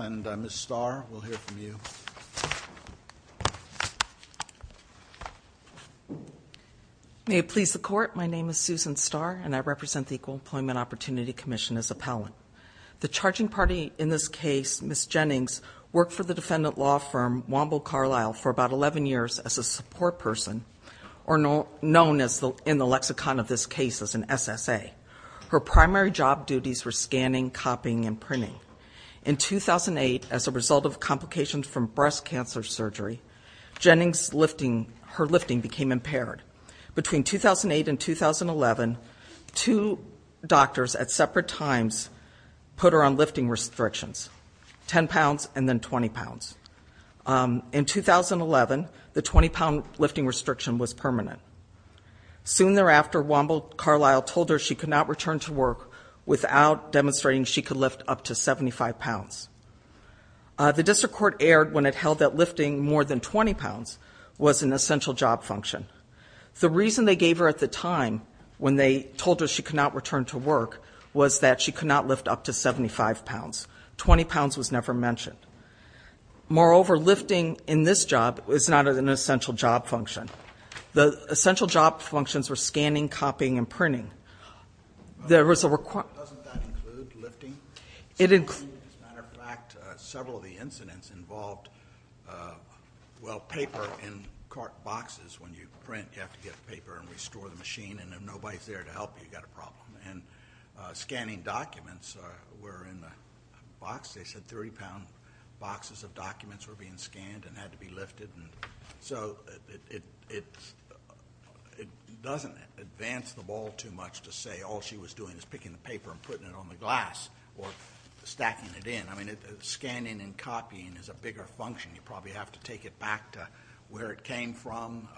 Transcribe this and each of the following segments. and Ms. Starr, we'll hear from you. May it please the Court, my name is Susan Starr and I represent the Equal Employment Opportunity Commission as appellant. The charging party in this case, Ms. Jennings, worked for the defendant law firm Womble Carlyle for about 11 years as a support person, or known in the lexicon of this case as an SSA. Her primary job duties were scanning, copying, and printing. In 2008, as a result of complications from breast cancer surgery, Jennings' lifting, her lifting became impaired. Between 2008 and 2011, two doctors at separate times put her on lifting restrictions, 10 pounds and then 20 pounds. In 2011, the 20-pound lifting restriction was permanent. Soon thereafter, Womble Carlyle told her she could not return to work without demonstrating she could lift up to 75 pounds. The district court erred when it held that lifting more than 20 pounds was an essential job function. The reason they gave her at the time, when they told her she could not return to work, was that she could not lift up to 75 pounds. 20 pounds was never mentioned. Moreover, lifting in this job is not an essential job function. The essential job functions were scanning, copying, and printing. There was a requirement. Doesn't that include lifting? It includes. As a matter of fact, several of the incidents involved, well, paper in cart boxes. When you print, you have to get paper and restore the machine. And if nobody's there to help you, you've got a problem. And scanning documents were in the box. They said 30-pound boxes of documents were being scanned and had to be lifted. So it doesn't advance the ball too much to say all she was doing is picking the paper and putting it on the glass or stacking it in. I mean, scanning and copying is a bigger function. You probably have to take it back to where it came from.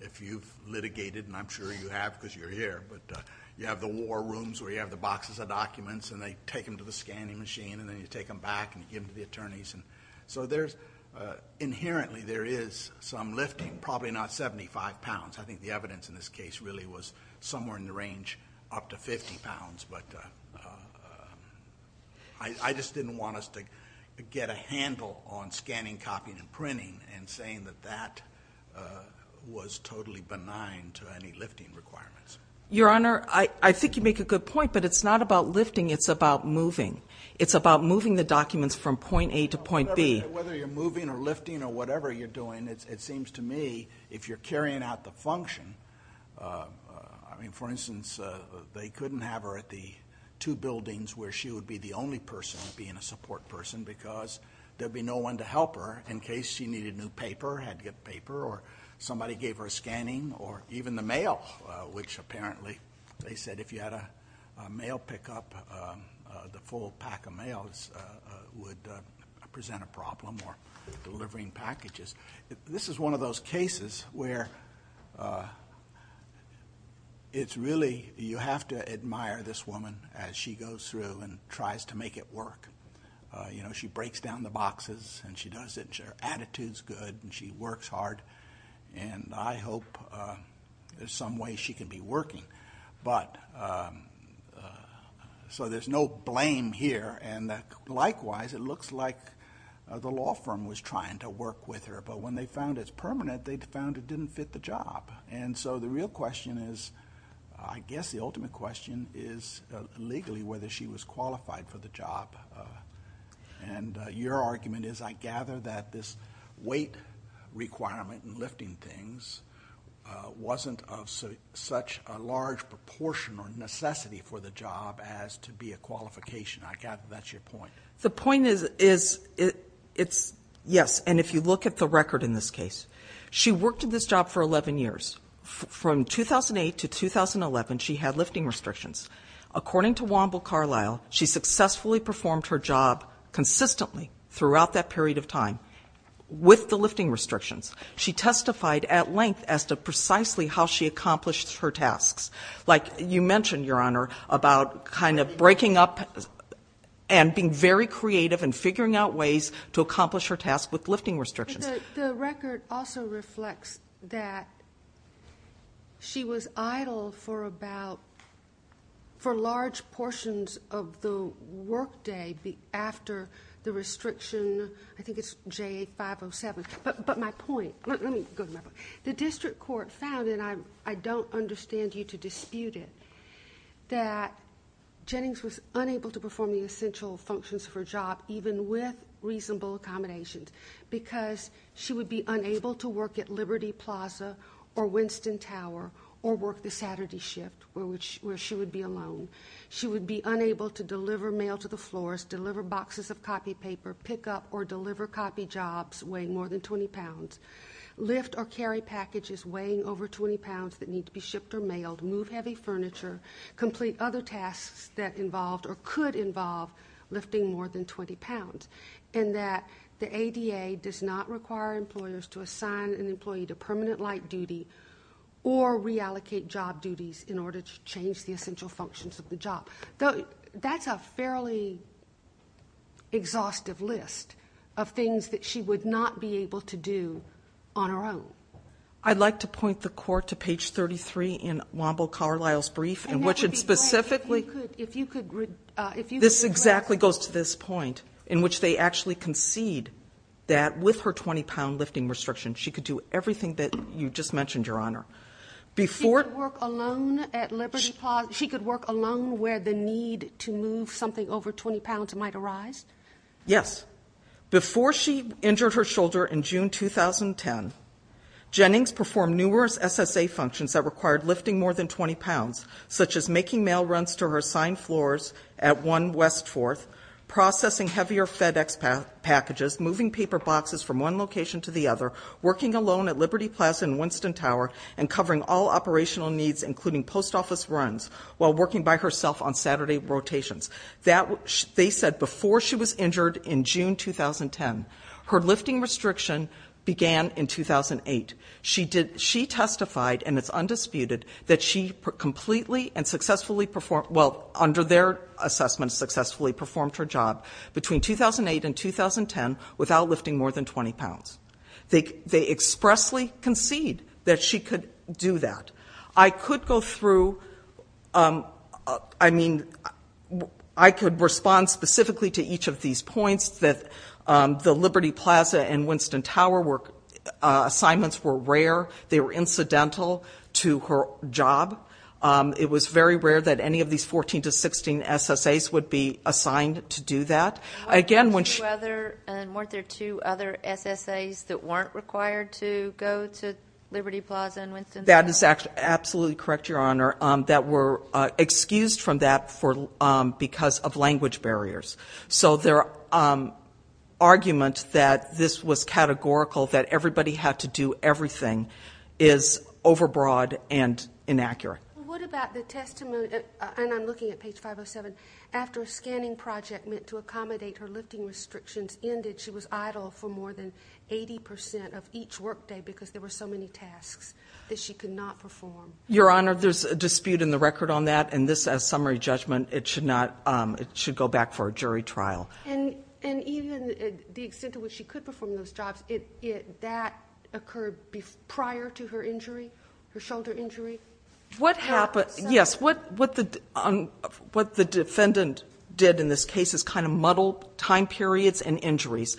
If you've litigated, and I'm sure you have because you're here, but you have the war rooms where you have the boxes of documents. And they take them to the scanning machine. And then you take them back and give them to the attorneys. So inherently, there is some lifting, probably not 75 pounds. I think the evidence in this case really was somewhere in the range up to 50 pounds. But I just didn't want us to get a handle on scanning, copying, and printing and saying that that was totally benign to any lifting requirements. Your Honor, I think you make a good point. But it's not about lifting. It's about moving. It's about moving the documents from point A to point B. Whether you're moving or lifting or whatever you're doing, it seems to me if you're carrying out the function, I mean, for instance, they couldn't have her at the two buildings where she would be the only person being a support person because there'd be no one to help her in case she needed new paper, had apparently, they said if you had a mail pickup, the full pack of mails would present a problem or delivering packages. This is one of those cases where it's really you have to admire this woman as she goes through and tries to make it work. She breaks down the boxes. And she does it. And her attitude's good. And she works hard. And I hope there's some way she can be working. So there's no blame here. And likewise, it looks like the law firm was trying to work with her. But when they found it's permanent, they found it didn't fit the job. And so the real question is, I guess the ultimate question is legally whether she was qualified for the job. And your argument is, I gather, that this weight requirement in lifting things wasn't of such a large proportion or necessity for the job as to be a qualification. I gather that's your point. The point is, yes. And if you look at the record in this case, she worked at this job for 11 years. From 2008 to 2011, she had lifting restrictions. According to Wamble Carlyle, she successfully performed her job consistently throughout that period of time with the lifting restrictions. She testified at length as to precisely how she accomplished her tasks. Like you mentioned, Your Honor, about kind of breaking up and being very creative and figuring out ways to accomplish her task with lifting restrictions. The record also reflects that she was idle for large portions of the workday after the restriction, I think it's J8507. But my point, let me go to my point. The district court found, and I don't understand you to dispute it, that Jennings was unable to perform the essential functions of her job even with reasonable accommodations because she would be unable to work at Liberty Plaza or Winston Tower or work the Saturday shift where she would be alone. She would be unable to deliver mail to the floors, deliver boxes of copy paper, pick up or deliver copy jobs weighing more than 20 pounds, lift or carry packages weighing over 20 pounds that need to be shipped or mailed, move heavy furniture, complete other tasks that involved or could involve lifting more than 20 pounds. And that the ADA does not require employers to assign an employee to permanent light duty or reallocate job duties in order to change the essential functions of the job. That's a fairly exhaustive list of things that she would not be able to do on her own. I'd like to point the court to page 33 in Womble Carlyle's brief in which it specifically... And that would be great if you could... This exactly goes to this point in which they actually concede that with her 20-pound lifting restriction, she could do everything that you just mentioned, Your Honor. She could work alone at Liberty Plaza? She could work alone where the need to move something over 20 pounds might arise? Yes. Before she injured her shoulder in June 2010, Jennings performed numerous SSA functions that required lifting more than 20 pounds such as making mail runs to her assigned floors at 1 West 4th, processing heavier FedEx packages, moving paper boxes from one location to the other, working alone at Liberty Plaza in Winston Tower, and covering all operational needs including post office runs while working by herself on Saturday rotations. That... They said before she was injured in June 2010. Her lifting restriction began in 2008. She did... She testified, and it's undisputed, that she completely and successfully performed... Well, under their assessment, successfully performed her job between 2008 and 2010 without lifting more than 20 pounds. They expressly concede that she could do that. I could go through... I mean, I could respond specifically to each of these points that the Liberty Plaza and Winston Tower assignments were rare. They were incidental to her job. It was very rare that any of these 14 to 16 SSAs would be assigned to do that. Again, when she... And weren't there two other SSAs that weren't required to go to Liberty Plaza and Winston Tower? That is absolutely correct, Your Honor. That were excused from that because of language barriers. So their argument that this was categorical, that everybody had to do everything, is overbroad and inaccurate. Well, what about the testimony... And I'm looking at page 507. After a scanning project meant to accommodate her lifting restrictions ended, she was idle for more than 80% of each workday because there were so many tasks that she could not perform. Your Honor, there's a dispute in the record on that. And this, as summary judgment, it should go back for a jury trial. And even the extent to which she could perform those jobs, that occurred prior to her injury, her shoulder injury? What happened... Yes, what the defendant did in this case is kind of muddled time periods and injuries.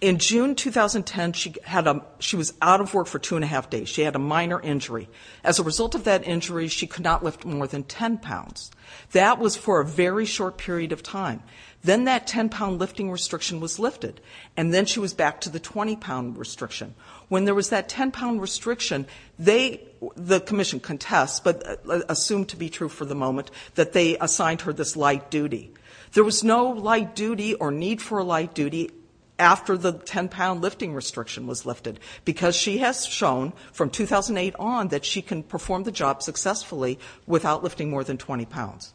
In June 2010, she was out of work for two and a half days. She had a minor injury. As a result of that injury, she could not lift more than 10 pounds. That was for a very short period of time. Then that 10 pound lifting restriction was lifted. And then she was back to the 20 pound restriction. When there was that 10 pound restriction, the commission contests, but assumed to be true for the moment, that they assigned her this light duty. There was no light duty or need for a light duty after the 10 pound lifting restriction was lifted because she has shown from 2008 on that she can perform the job successfully without lifting more than 20 pounds.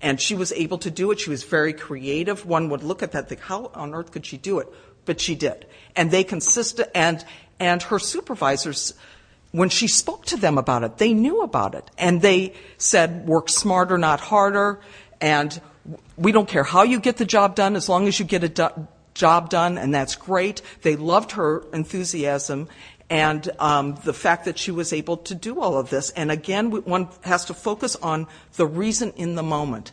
And she was able to do it. She was very creative. One would look at that and think, how on earth could she do it? But she did. And her supervisors, when she spoke to them about it, they knew about it. And they said, work smarter, not harder. And we don't care how you get the job done, as long as you get a job done. And that's great. They loved her enthusiasm and the fact that she was able to do all of this. And again, one has to focus on the reason in the moment.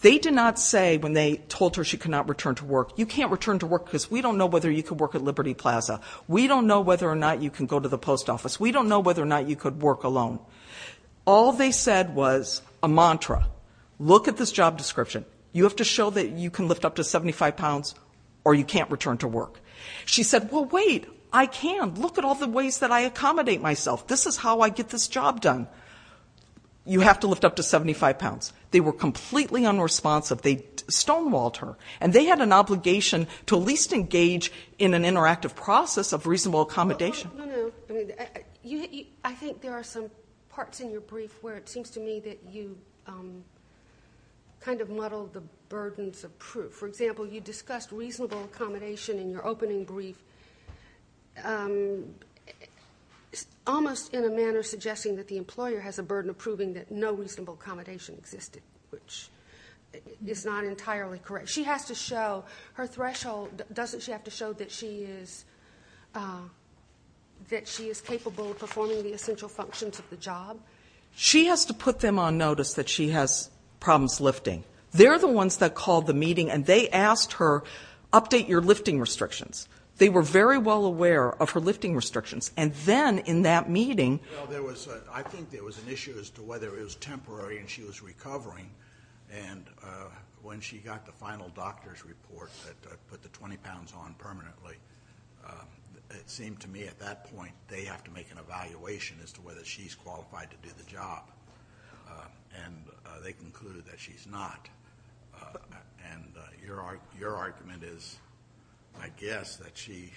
They did not say when they told her she could not return to work, you can't return to work because we don't know whether you can work at Liberty Plaza. We don't know whether or not you can go to the post office. We don't know whether or not you could work alone. All they said was a mantra. Look at this job description. You have to show that you can lift up to 75 pounds or you can't return to work. She said, well, wait, I can. Look at all the ways that I accommodate myself. This is how I get this job done. You have to lift up to 75 pounds. They were completely unresponsive. They stonewalled her. And they had an obligation to at least engage in an interactive process of reasonable accommodation. No, no, no. I think there are some parts in your brief where it seems to me that you kind of muddle the burdens of proof. For example, you discussed reasonable accommodation in your opening brief. Almost in a manner suggesting that the employer has a burden of proving that no reasonable accommodation existed, which is not entirely correct. She has to show her threshold. Doesn't she have to show that she is capable of performing the essential functions of the job? She has to put them on notice that she has problems lifting. They're the ones that called the meeting and they asked her, update your lifting restrictions. They were very well aware of her lifting restrictions. And then in that meeting- Well, I think there was an issue as to whether it was temporary and she was recovering. And when she got the final doctor's report that put the 20 pounds on permanently, it seemed to me at that point, they have to make an evaluation as to whether she's qualified to do the job. And they concluded that she's not. And your argument is, I guess, that she-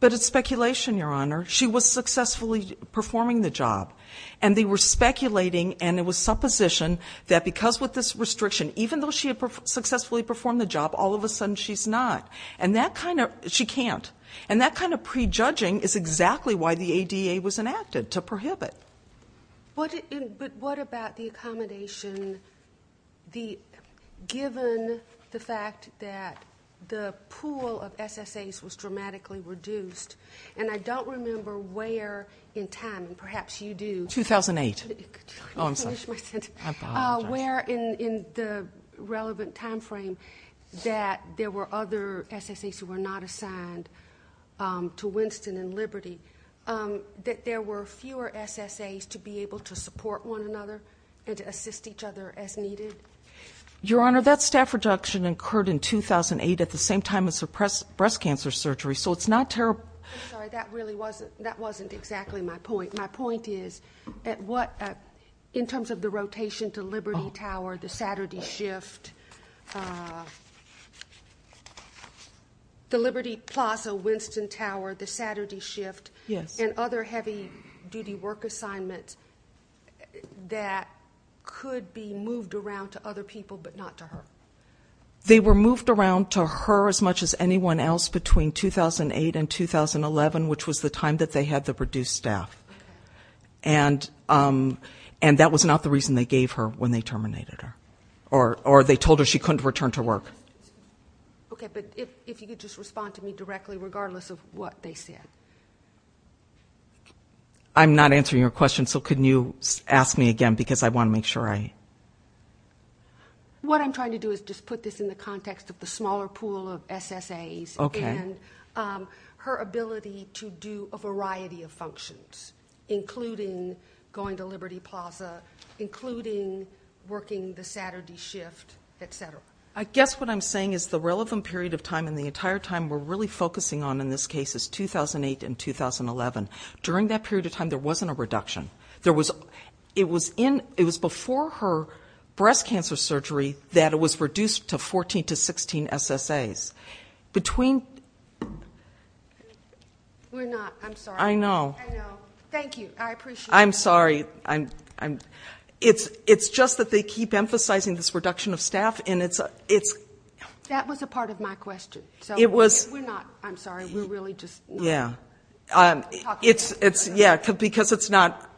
But it's speculation, Your Honor. She was successfully performing the job. And they were speculating, and it was supposition, that because with this restriction, even though she had successfully performed the job, all of a sudden she's not. And that kind of, she can't. And that kind of prejudging is exactly why the ADA was enacted, to prohibit. But what about the accommodation, given the fact that the pool of SSAs was dramatically reduced? And I don't remember where in time, and perhaps you do- 2008. I'm sorry. I didn't finish my sentence. I apologize. Where in the relevant time frame that there were other SSAs who were not assigned to Winston and Liberty, that there were fewer SSAs to be able to support one another and to assist each other as needed? Your Honor, that staff reduction occurred in 2008 at the same time as her breast cancer surgery. So it's not terrible. I'm sorry, that really wasn't, that wasn't exactly my point. My point is, in terms of the rotation to Liberty Tower, the Saturday shift, the Liberty Plaza, Winston Tower, the Saturday shift. Yes. And other heavy duty work assignments that could be moved around to other people, but not to her. They were moved around to her as much as anyone else between 2008 and 2011, which was the time that they had to produce staff. And that was not the reason they gave her when they terminated her. Or they told her she couldn't return to work. Okay, but if you could just respond to me directly, regardless of what they said. I'm not answering your question, so can you ask me again, because I want to make sure I. Okay. What I'm trying to do is just put this in the context of the smaller pool of SSAs and her ability to do a variety of functions, including going to Liberty Plaza, including working the Saturday shift, etc. I guess what I'm saying is the relevant period of time and the entire time we're really focusing on in this case is 2008 and 2011. During that period of time, there wasn't a reduction. It was before her breast cancer surgery that it was reduced to 14 to 16 SSAs. Between. We're not, I'm sorry. I know. I know. Thank you, I appreciate it. I'm sorry, it's just that they keep emphasizing this reduction of staff, and it's. That was a part of my question, so we're not, I'm sorry, we're really just. Yeah, it's, it's, yeah, because it's not,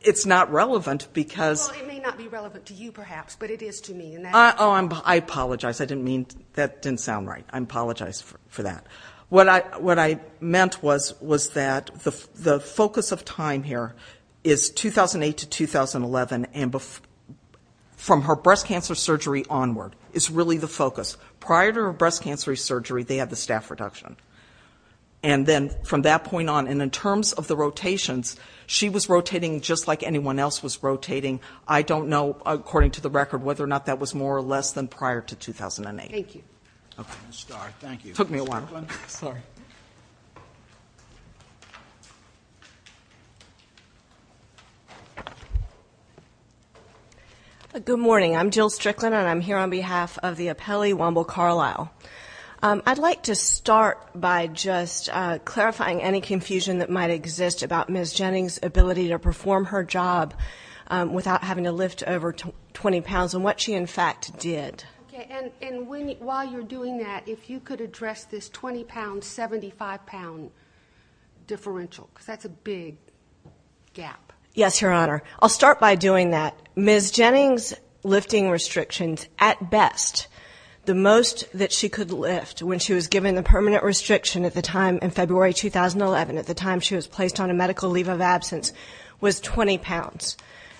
it's not relevant, because. Well, it may not be relevant to you, perhaps, but it is to me, and that's. Oh, I apologize, I didn't mean, that didn't sound right. I apologize for that. What I, what I meant was, was that the, the focus of time here is 2008 to 2011 and before, from her breast cancer surgery onward is really the focus. Prior to her breast cancer surgery, they had the staff reduction. And then, from that point on, and in terms of the rotations, she was rotating just like anyone else was rotating. I don't know, according to the record, whether or not that was more or less than prior to 2008. Thank you. Okay, Ms. Starr, thank you. Took me a while. Sorry. Good morning, I'm Jill Strickland, and I'm here on behalf of the appellee, Womble Carlisle. I'd like to start by just clarifying any confusion that might exist about Ms. Jennings' ability to perform her job without having to lift over 20 pounds, and what she, in fact, did. Okay, and, and when, while you're doing that, if you could address this 20 pound, 75 pound differential, because that's a big gap. Yes, Your Honor. I'll start by doing that. Ms. Jennings' lifting restrictions, at best, the most that she could lift when she was given the permanent restriction at the time, in February 2011, at the time she was placed on a medical leave of absence, was 20 pounds.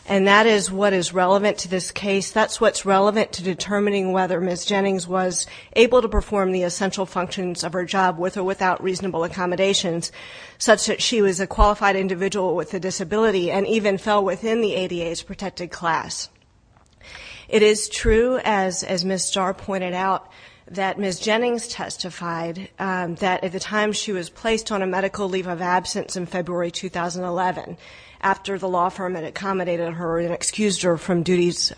And that is what is relevant to this case. That's what's relevant to determining whether Ms. Jennings was able to perform the essential functions of her job, with or without reasonable accommodations, such that she was a qualified individual with a disability, and even fell within the ADA's protected class. It is true, as Ms. Starr pointed out, that Ms. Jennings testified that at the time she was placed on a medical leave of absence in February 2011, after the law firm had accommodated her and excused her from duties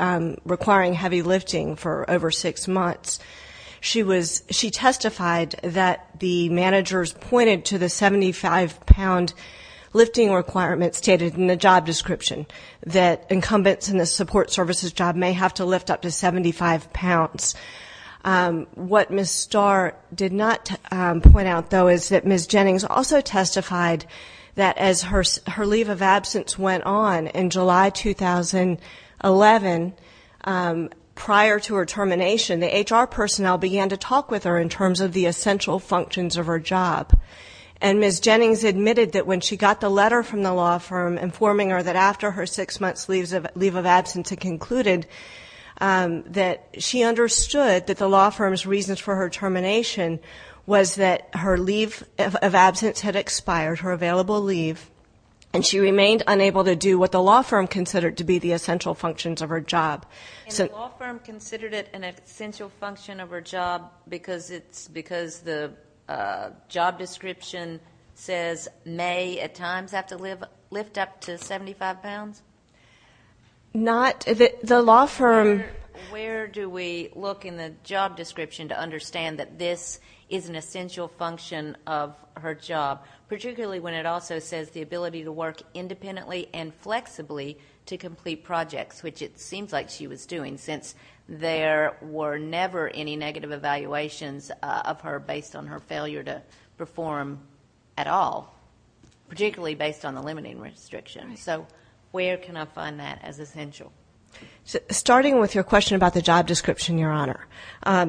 requiring heavy lifting for over six months. She testified that the managers pointed to the 75 pound lifting requirements stated in the job description, that incumbents in the support services job may have to lift up to 75 pounds. What Ms. Starr did not point out, though, is that Ms. Jennings also testified that as her leave of absence went on in July 2011, prior to her termination, the HR personnel began to talk with her in terms of the essential functions of her job. And Ms. Jennings admitted that when she got the letter from the law firm informing her that after her six months leave of absence had concluded, that she understood that the law firm's reasons for her termination was that her leave of absence had expired, her available leave, and she remained unable to do what the law firm considered to be the essential functions of her job. So- And the law firm considered it an essential function of her job because it's, because the job description says may at times have to lift up to 75 pounds? Not, the law firm- Where do we look in the job description to understand that this is an essential function of her job? Particularly when it also says the ability to work independently and flexibly to complete projects, which it seems like she was doing since there were never any negative evaluations of her based on her failure to perform at all. Particularly based on the limiting restrictions. So where can I find that as essential? Starting with your question about the job description, Your Honor.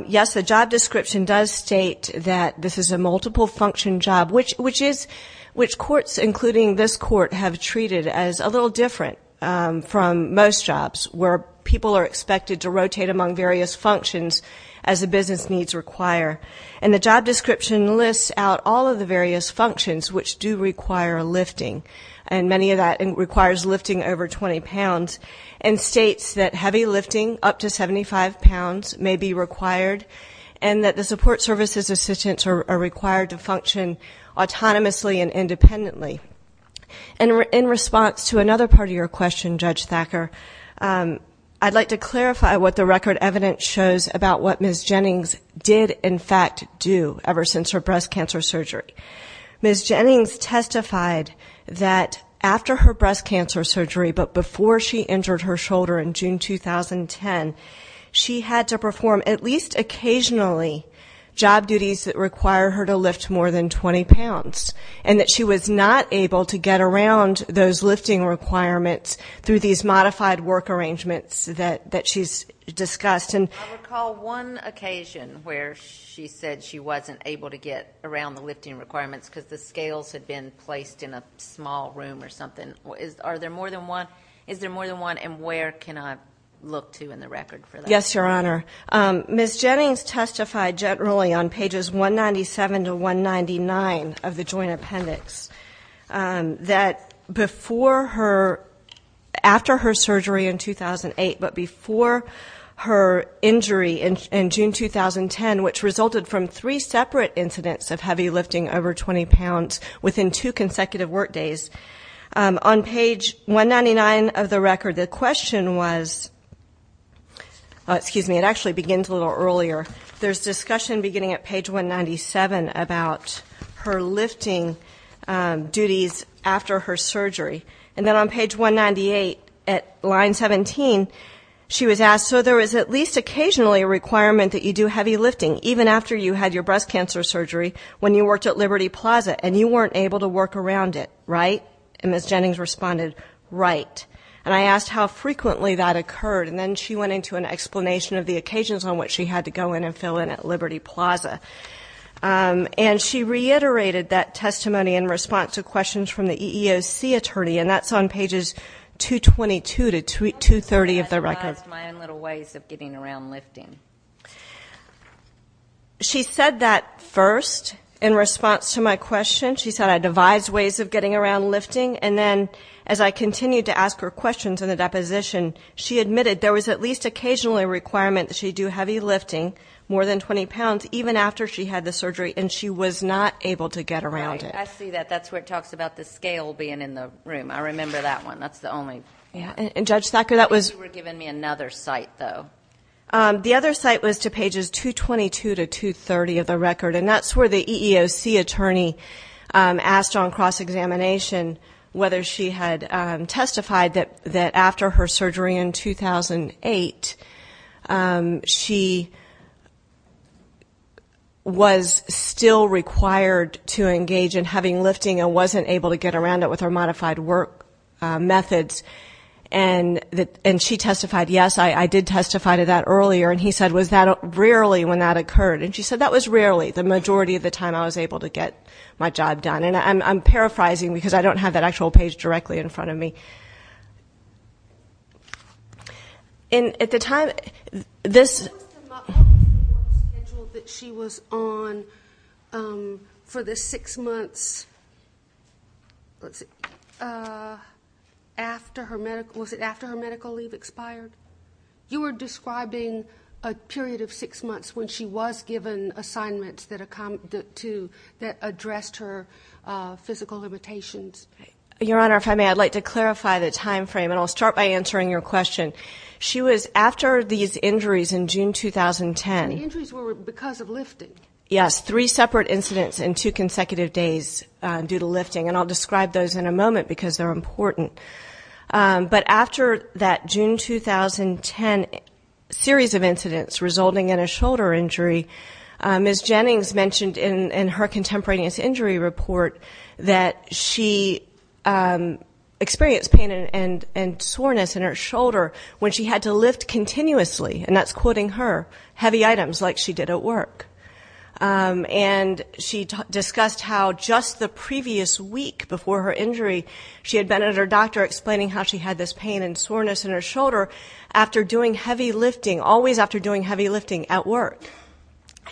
Yes, the job description does state that this is a multiple function job, which courts, including this court, have treated as a little different from most jobs, where people are expected to rotate among various functions as the business needs require. And the job description lists out all of the various functions which do require lifting. And many of that requires lifting over 20 pounds, and states that heavy lifting up to 75 pounds may be required. And that the support services assistants are required to function autonomously and independently. And in response to another part of your question, Judge Thacker, I'd like to clarify what the record evidence shows about what Ms. Jennings did, in fact, do ever since her breast cancer surgery. Ms. Jennings testified that after her breast cancer surgery, but occasionally, job duties that require her to lift more than 20 pounds. And that she was not able to get around those lifting requirements through these modified work arrangements that she's discussed. And- I recall one occasion where she said she wasn't able to get around the lifting requirements, because the scales had been placed in a small room or something. Are there more than one? Is there more than one, and where can I look to in the record for that? Yes, Your Honor. Ms. Jennings testified generally on pages 197 to 199 of the joint appendix. That before her, after her surgery in 2008, but before her injury in June 2010, which resulted from three separate incidents of heavy lifting over 20 pounds within two consecutive work days. On page 199 of the record, the question was, excuse me, it actually begins a little earlier, there's discussion beginning at page 197 about her lifting duties after her surgery. And then on page 198, at line 17, she was asked, so there is at least occasionally a requirement that you do heavy lifting, even after you had your breast cancer surgery, when you worked at Liberty Plaza, and you weren't able to work around it, right? And Ms. Jennings responded, right. And I asked how frequently that occurred, and then she went into an explanation of the occasions on which she had to go in and fill in at Liberty Plaza. And she reiterated that testimony in response to questions from the EEOC attorney, and that's on pages 222 to 230 of the record. I devised my own little ways of getting around lifting. She said that first, in response to my question, she said I devised ways of getting around lifting. And then as I continued to ask her questions in the deposition, she admitted there was at least occasionally a requirement that she do heavy lifting, more than 20 pounds, even after she had the surgery, and she was not able to get around it. I see that. That's where it talks about the scale being in the room. I remember that one. That's the only- Yeah, and Judge Thacker, that was- You were giving me another site, though. The other site was to pages 222 to 230 of the record. And that's where the EEOC attorney asked on cross-examination whether she had testified that after her surgery in 2008, she was still required to engage in having lifting and wasn't able to get around it with her modified work methods. And she testified, yes, I did testify to that earlier. And he said, was that rarely when that occurred? And she said, that was rarely. The majority of the time I was able to get my job done. And I'm paraphrasing because I don't have that actual page directly in front of me. And at the time, this- What was the month schedule that she was on for the six months, let's see, was it after her medical leave expired? You were describing a period of six months when she was given assignments that addressed her physical limitations. Your Honor, if I may, I'd like to clarify the time frame. And I'll start by answering your question. She was, after these injuries in June 2010- The injuries were because of lifting. Yes, three separate incidents in two consecutive days due to lifting. And I'll describe those in a moment because they're important. But after that June 2010 series of incidents resulting in a shoulder injury, Ms. Jennings mentioned in her contemporaneous injury report that she experienced pain and soreness in her shoulder when she had to lift continuously. And that's quoting her, heavy items like she did at work. And she discussed how just the previous week before her injury, she had been at her doctor explaining how she had this pain and soreness in her shoulder after doing heavy lifting, always after doing heavy lifting at work.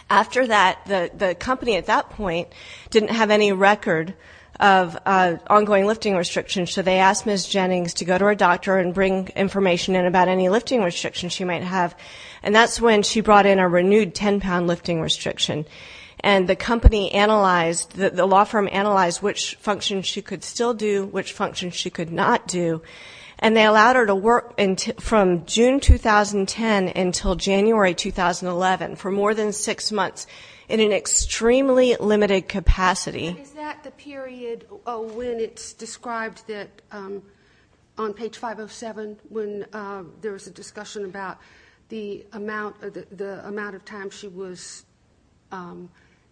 After that, the company at that point didn't have any record of ongoing lifting restrictions. So they asked Ms. Jennings to go to her doctor and bring information in about any lifting restrictions she might have. And that's when she brought in a renewed ten pound lifting restriction. And the company analyzed, the law firm analyzed which functions she could still do, which functions she could not do. And they allowed her to work from June 2010 until January 2011 for more than six months in an extremely limited capacity. Is that the period when it's described that on page 507, when there was a discussion about the amount of time she was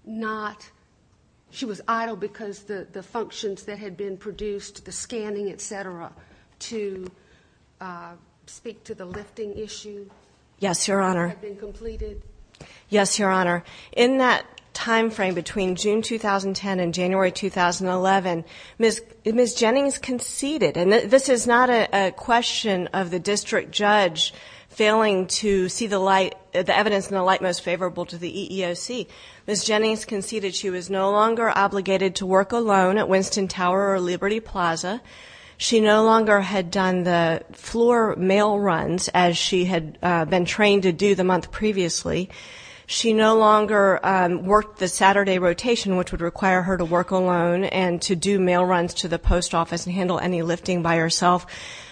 not, she was idle because the functions that had been produced, the scanning, etc., to speak to the lifting issue. Yes, your honor. Had been completed. Yes, your honor. In that time frame between June 2010 and January 2011, Ms. Jennings conceded, and this is not a question of the district judge failing to see the light, the evidence in the light most favorable to the EEOC, Ms. Jennings conceded she was no longer obligated to work alone at Winston Tower or Liberty Plaza. She no longer had done the floor mail runs as she had been trained to do the month previously. She no longer worked the Saturday rotation, which would require her to work alone and to do mail runs to the post office and handle any lifting by herself.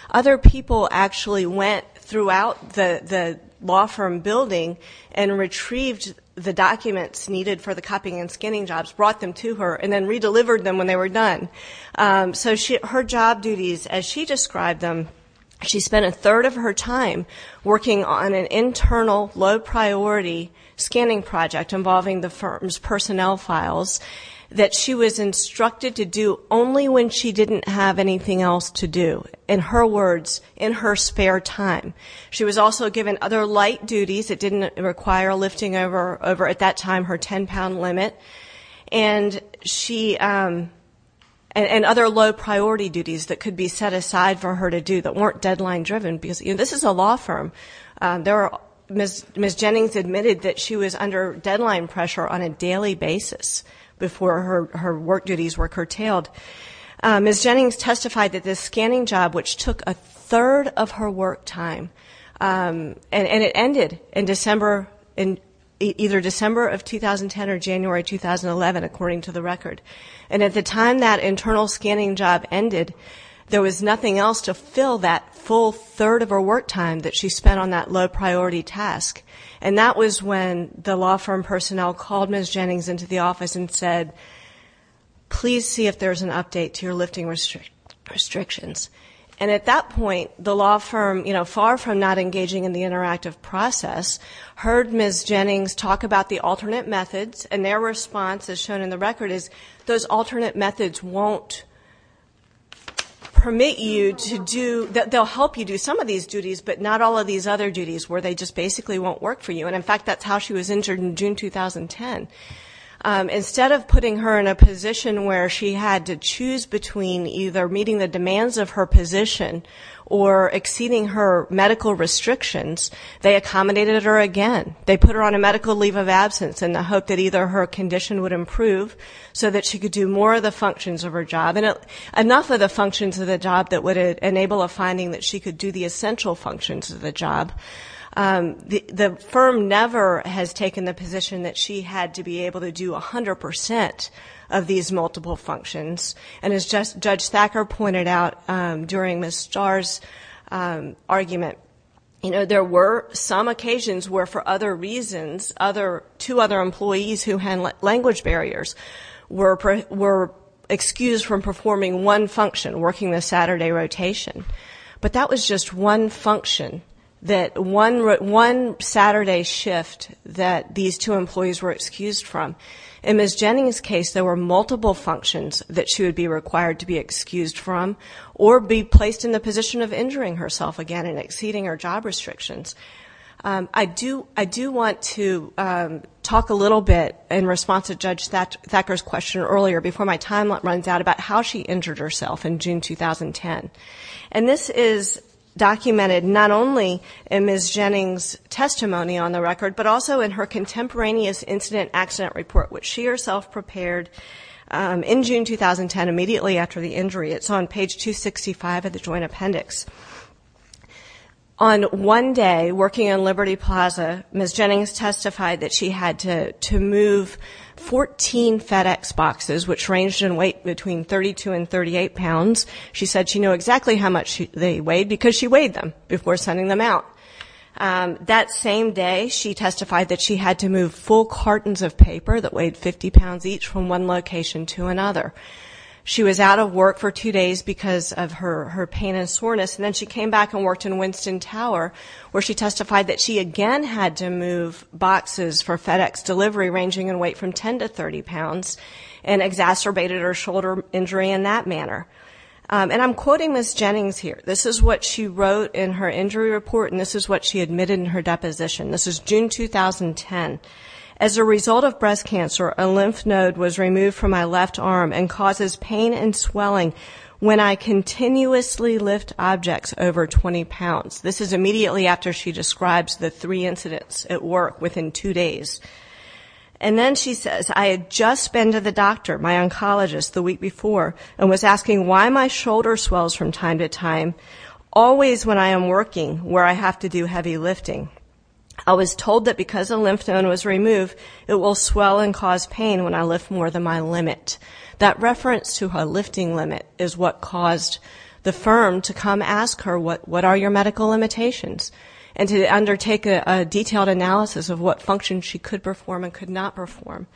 Other people actually went throughout the law firm building and retrieved the documents needed for the copying and scanning jobs, brought them to her, and then redelivered them when they were done. So her job duties, as she described them, she spent a third of her time working on an internal low priority scanning project involving the firm's personnel files. That she was instructed to do only when she didn't have anything else to do. In her words, in her spare time. She was also given other light duties that didn't require lifting over, at that time, her ten pound limit. And other low priority duties that could be set aside for her to do that weren't deadline driven, because this is a law firm. Ms. Jennings admitted that she was under deadline pressure on a daily basis before her work duties were curtailed. Ms. Jennings testified that this scanning job, which took a third of her work time, and it ended in either December of 2010 or January 2011, according to the record. And at the time that internal scanning job ended, there was nothing else to fill that full third of her work time that she spent on that low priority task. And that was when the law firm personnel called Ms. Jennings into the office and said, please see if there's an update to your lifting restrictions. And at that point, the law firm, far from not engaging in the interactive process, heard Ms. Jennings talk about the alternate methods, and their response, as shown in the record, is those alternate methods won't permit you to do, they'll help you do some of these duties, but not all of these other duties where they just basically won't work for you. And in fact, that's how she was injured in June 2010. Instead of putting her in a position where she had to choose between either meeting the demands of her position, or exceeding her medical restrictions, they accommodated her again. They put her on a medical leave of absence in the hope that either her condition would improve so that she could do more of the functions of her job. Enough of the functions of the job that would enable a finding that she could do the essential functions of the job. The firm never has taken the position that she had to be able to do 100% of these multiple functions. And as Judge Thacker pointed out during Ms. Starr's argument, there were some occasions where for other reasons, two other employees who had language barriers were excused from performing one function, working the Saturday rotation. But that was just one function, that one Saturday shift that these two employees were excused from. In Ms. Jennings' case, there were multiple functions that she would be required to be excused from, or be placed in the position of injuring herself again and exceeding her job restrictions. I do want to talk a little bit in response to Judge Thacker's question earlier, before my time runs out, about how she injured herself in June 2010. And this is documented not only in Ms. Jennings' testimony on the record, but also in her contemporaneous incident accident report, which she herself prepared in June 2010, immediately after the injury. It's on page 265 of the joint appendix. On one day, working in Liberty Plaza, Ms. Jennings testified that she had to move 14 FedEx boxes, which ranged in weight between 32 and 38 pounds. She said she knew exactly how much they weighed, because she weighed them before sending them out. That same day, she testified that she had to move full cartons of paper that weighed 50 pounds each from one location to another. She was out of work for two days because of her pain and soreness, and then she came back and worked in Winston Tower, where she testified that she again had to move boxes for FedEx delivery ranging in weight from 10 to 30 pounds, and exacerbated her shoulder injury in that manner. And I'm quoting Ms. Jennings here. This is what she wrote in her injury report, and this is what she admitted in her deposition. This is June 2010. As a result of breast cancer, a lymph node was removed from my left arm and causes pain and swelling when I continuously lift objects over 20 pounds. This is immediately after she describes the three incidents at work within two days. And then she says, I had just been to the doctor, my oncologist, the week before, and was asking why my shoulder swells from time to time, always when I am working, where I have to do heavy lifting. I was told that because a lymph node was removed, it will swell and cause pain when I lift more than my limit. That reference to her lifting limit is what caused the firm to come ask her, what are your medical limitations? And to undertake a detailed analysis of what functions she could perform and could not perform.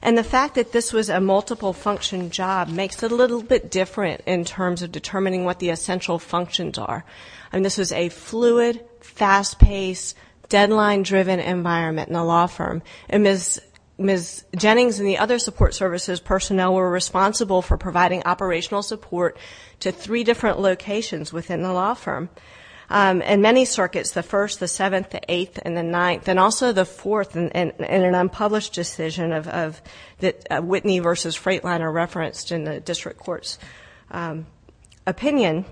And the fact that this was a multiple function job makes it a little bit different in terms of determining what the essential functions are. And this is a fluid, fast-paced, deadline-driven environment in the law firm. And Ms. Jennings and the other support services personnel were responsible for providing operational support to three different locations within the law firm. In many circuits, the first, the seventh, the eighth, and the ninth, and also the fourth in an unpublished decision of Whitney versus Freightliner referenced in the district court's opinion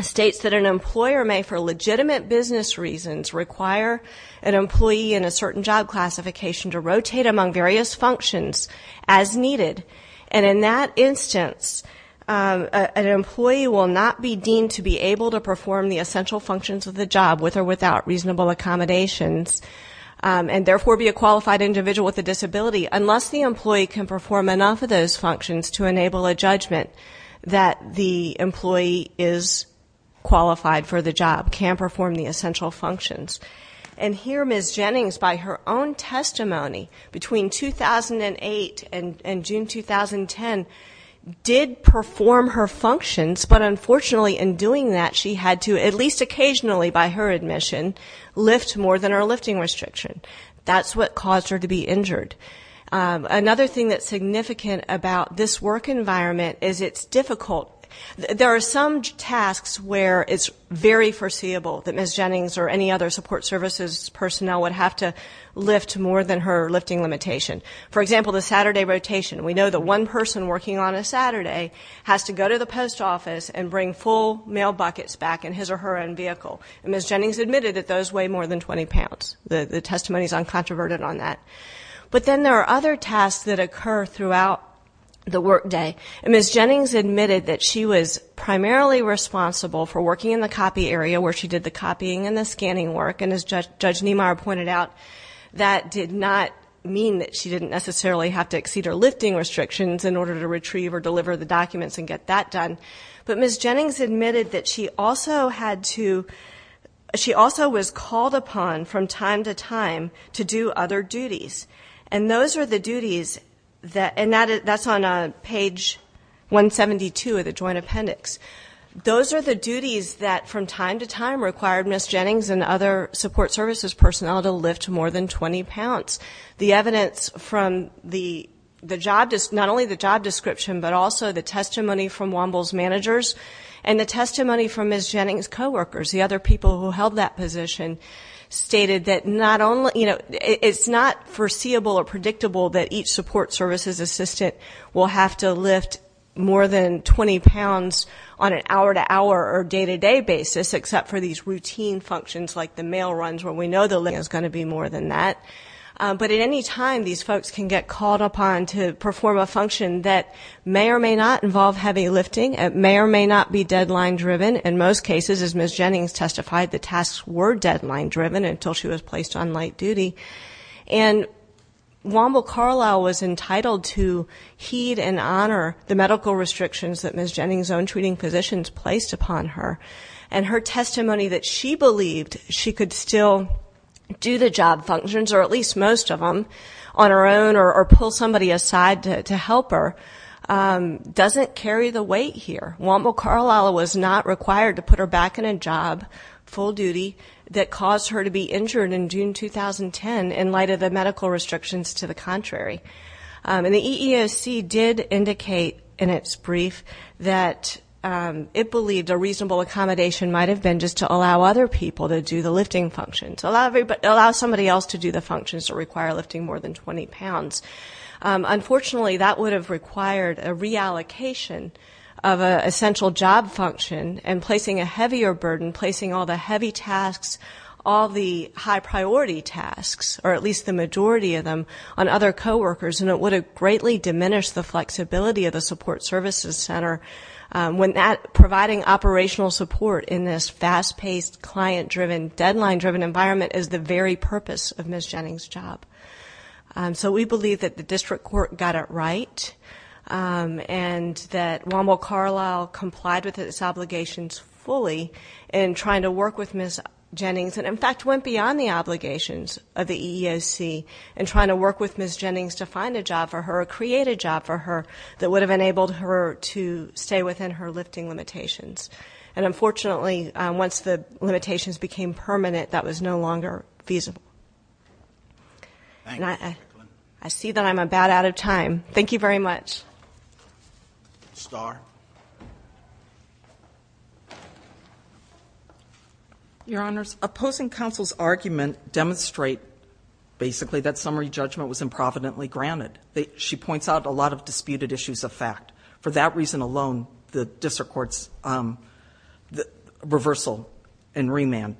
states that an employer may, for legitimate business reasons, require an employee in a certain job classification to rotate among various functions as needed. And in that instance, an employee will not be deemed to be able to perform the essential functions of the job, with or without reasonable accommodations, and therefore be a qualified individual with a disability, unless the employee can perform enough of those functions to enable a judgment that the employee is qualified for the job, can perform the essential functions. And here, Ms. Jennings, by her own testimony, between 2008 and June 2010, did perform her functions. But unfortunately, in doing that, she had to, at least occasionally by her admission, lift more than her lifting restriction. That's what caused her to be injured. Another thing that's significant about this work environment is it's difficult. There are some tasks where it's very foreseeable that Ms. Jennings or any other support services personnel would have to lift more than her lifting limitation. For example, the Saturday rotation. We know that one person working on a Saturday has to go to the post office and bring full mail buckets back in his or her own vehicle. Ms. Jennings admitted that those weigh more than 20 pounds. The testimony is uncontroverted on that. But then there are other tasks that occur throughout the work day. And Ms. Jennings admitted that she was primarily responsible for working in the copy area, where she did the copying and the scanning work. And as Judge Niemeyer pointed out, that did not mean that she didn't necessarily have to exceed her lifting restrictions in order to retrieve or deliver the documents and get that done. But Ms. Jennings admitted that she also had to, she also was called upon from time to time to do other duties. And those are the duties that, and that's on page 172 of the joint appendix. Those are the duties that from time to time required Ms. Jennings and other support services personnel to lift more than 20 pounds. The evidence from the job, not only the job description, but also the testimony from Womble's managers, and the testimony from Ms. Jennings' co-workers, the other people who held that position, stated that it's not foreseeable or predictable that each support services assistant will have to lift more than 20 pounds on an hour to hour or day to day basis, except for these routine functions like the mail runs, where we know the lifting is going to be more than that. But at any time, these folks can get called upon to perform a function that may or may not involve heavy lifting. It may or may not be deadline driven. In most cases, as Ms. Jennings testified, the tasks were deadline driven until she was placed on light duty. And Womble Carlisle was entitled to heed and honor the medical restrictions that Ms. Jennings' own treating physicians placed upon her. And her testimony that she believed she could still do the job functions, or at least most of them, on her own or pull somebody aside to help her, doesn't carry the weight here. Womble Carlisle was not required to put her back in a job, full duty, that caused her to be injured in June 2010 in light of the medical restrictions to the contrary. And the EEOC did indicate in its brief that it believed a reasonable accommodation might have been just to allow other people to do the lifting functions. Allow somebody else to do the functions that require lifting more than 20 pounds. Unfortunately, that would have required a reallocation of an essential job function and placing a heavier burden, placing all the heavy tasks, all the high priority tasks, or at least the majority of them, on other co-workers, and it would have greatly diminished the flexibility of the support services center. When that providing operational support in this fast-paced, client-driven, deadline-driven environment is the very purpose of Ms. Jennings' job. So we believe that the district court got it right and that Womble Carlisle complied with its obligations fully in trying to work with Ms. Jennings to find a job for her, or create a job for her that would have enabled her to stay within her lifting limitations. And unfortunately, once the limitations became permanent, that was no longer feasible. I see that I'm about out of time. Thank you very much. Star? Your Honors, opposing counsel's argument demonstrate basically that summary judgment was improvidently granted. She points out a lot of disputed issues of fact. For that reason alone, the district court's reversal and remand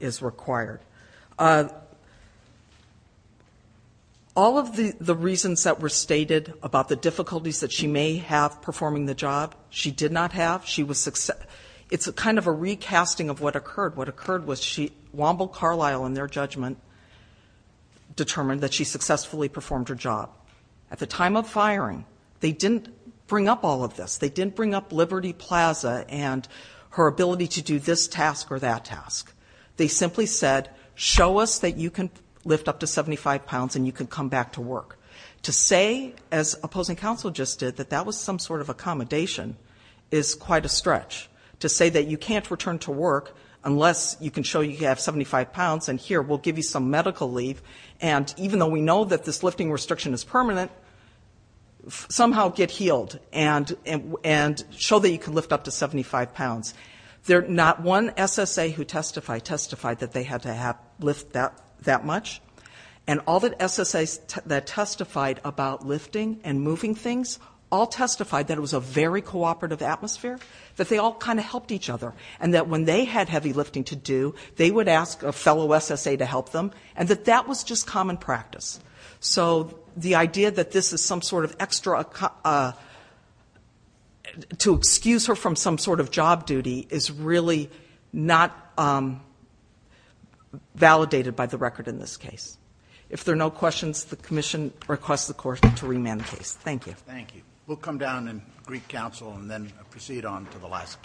is required. All of the reasons that were stated about the difficulties that she may have performing the job, she did not have. It's kind of a recasting of what occurred. What occurred was Womble Carlisle, in their judgment, determined that she successfully performed her job. At the time of firing, they didn't bring up all of this. They didn't bring up Liberty Plaza and her ability to do this task or that task. They simply said, show us that you can lift up to 75 pounds and you can come back to work. To say, as opposing counsel just did, that that was some sort of accommodation is quite a stretch. To say that you can't return to work unless you can show you have 75 pounds and here, we'll give you some medical leave. And even though we know that this lifting restriction is permanent, somehow get healed and show that you can lift up to 75 pounds. There's not one SSA who testified that they had to lift that much. And all the SSAs that testified about lifting and moving things all testified that it was a very cooperative atmosphere, that they all kind of helped each other. And that when they had heavy lifting to do, they would ask a fellow SSA to help them, and that that was just common practice. So the idea that this is some sort of extra, to excuse her from some sort of job duty is really not validated by the record in this case. If there are no questions, the commission requests the court to remand the case. Thank you. Thank you. We'll come down and greet counsel and then proceed on to the last case.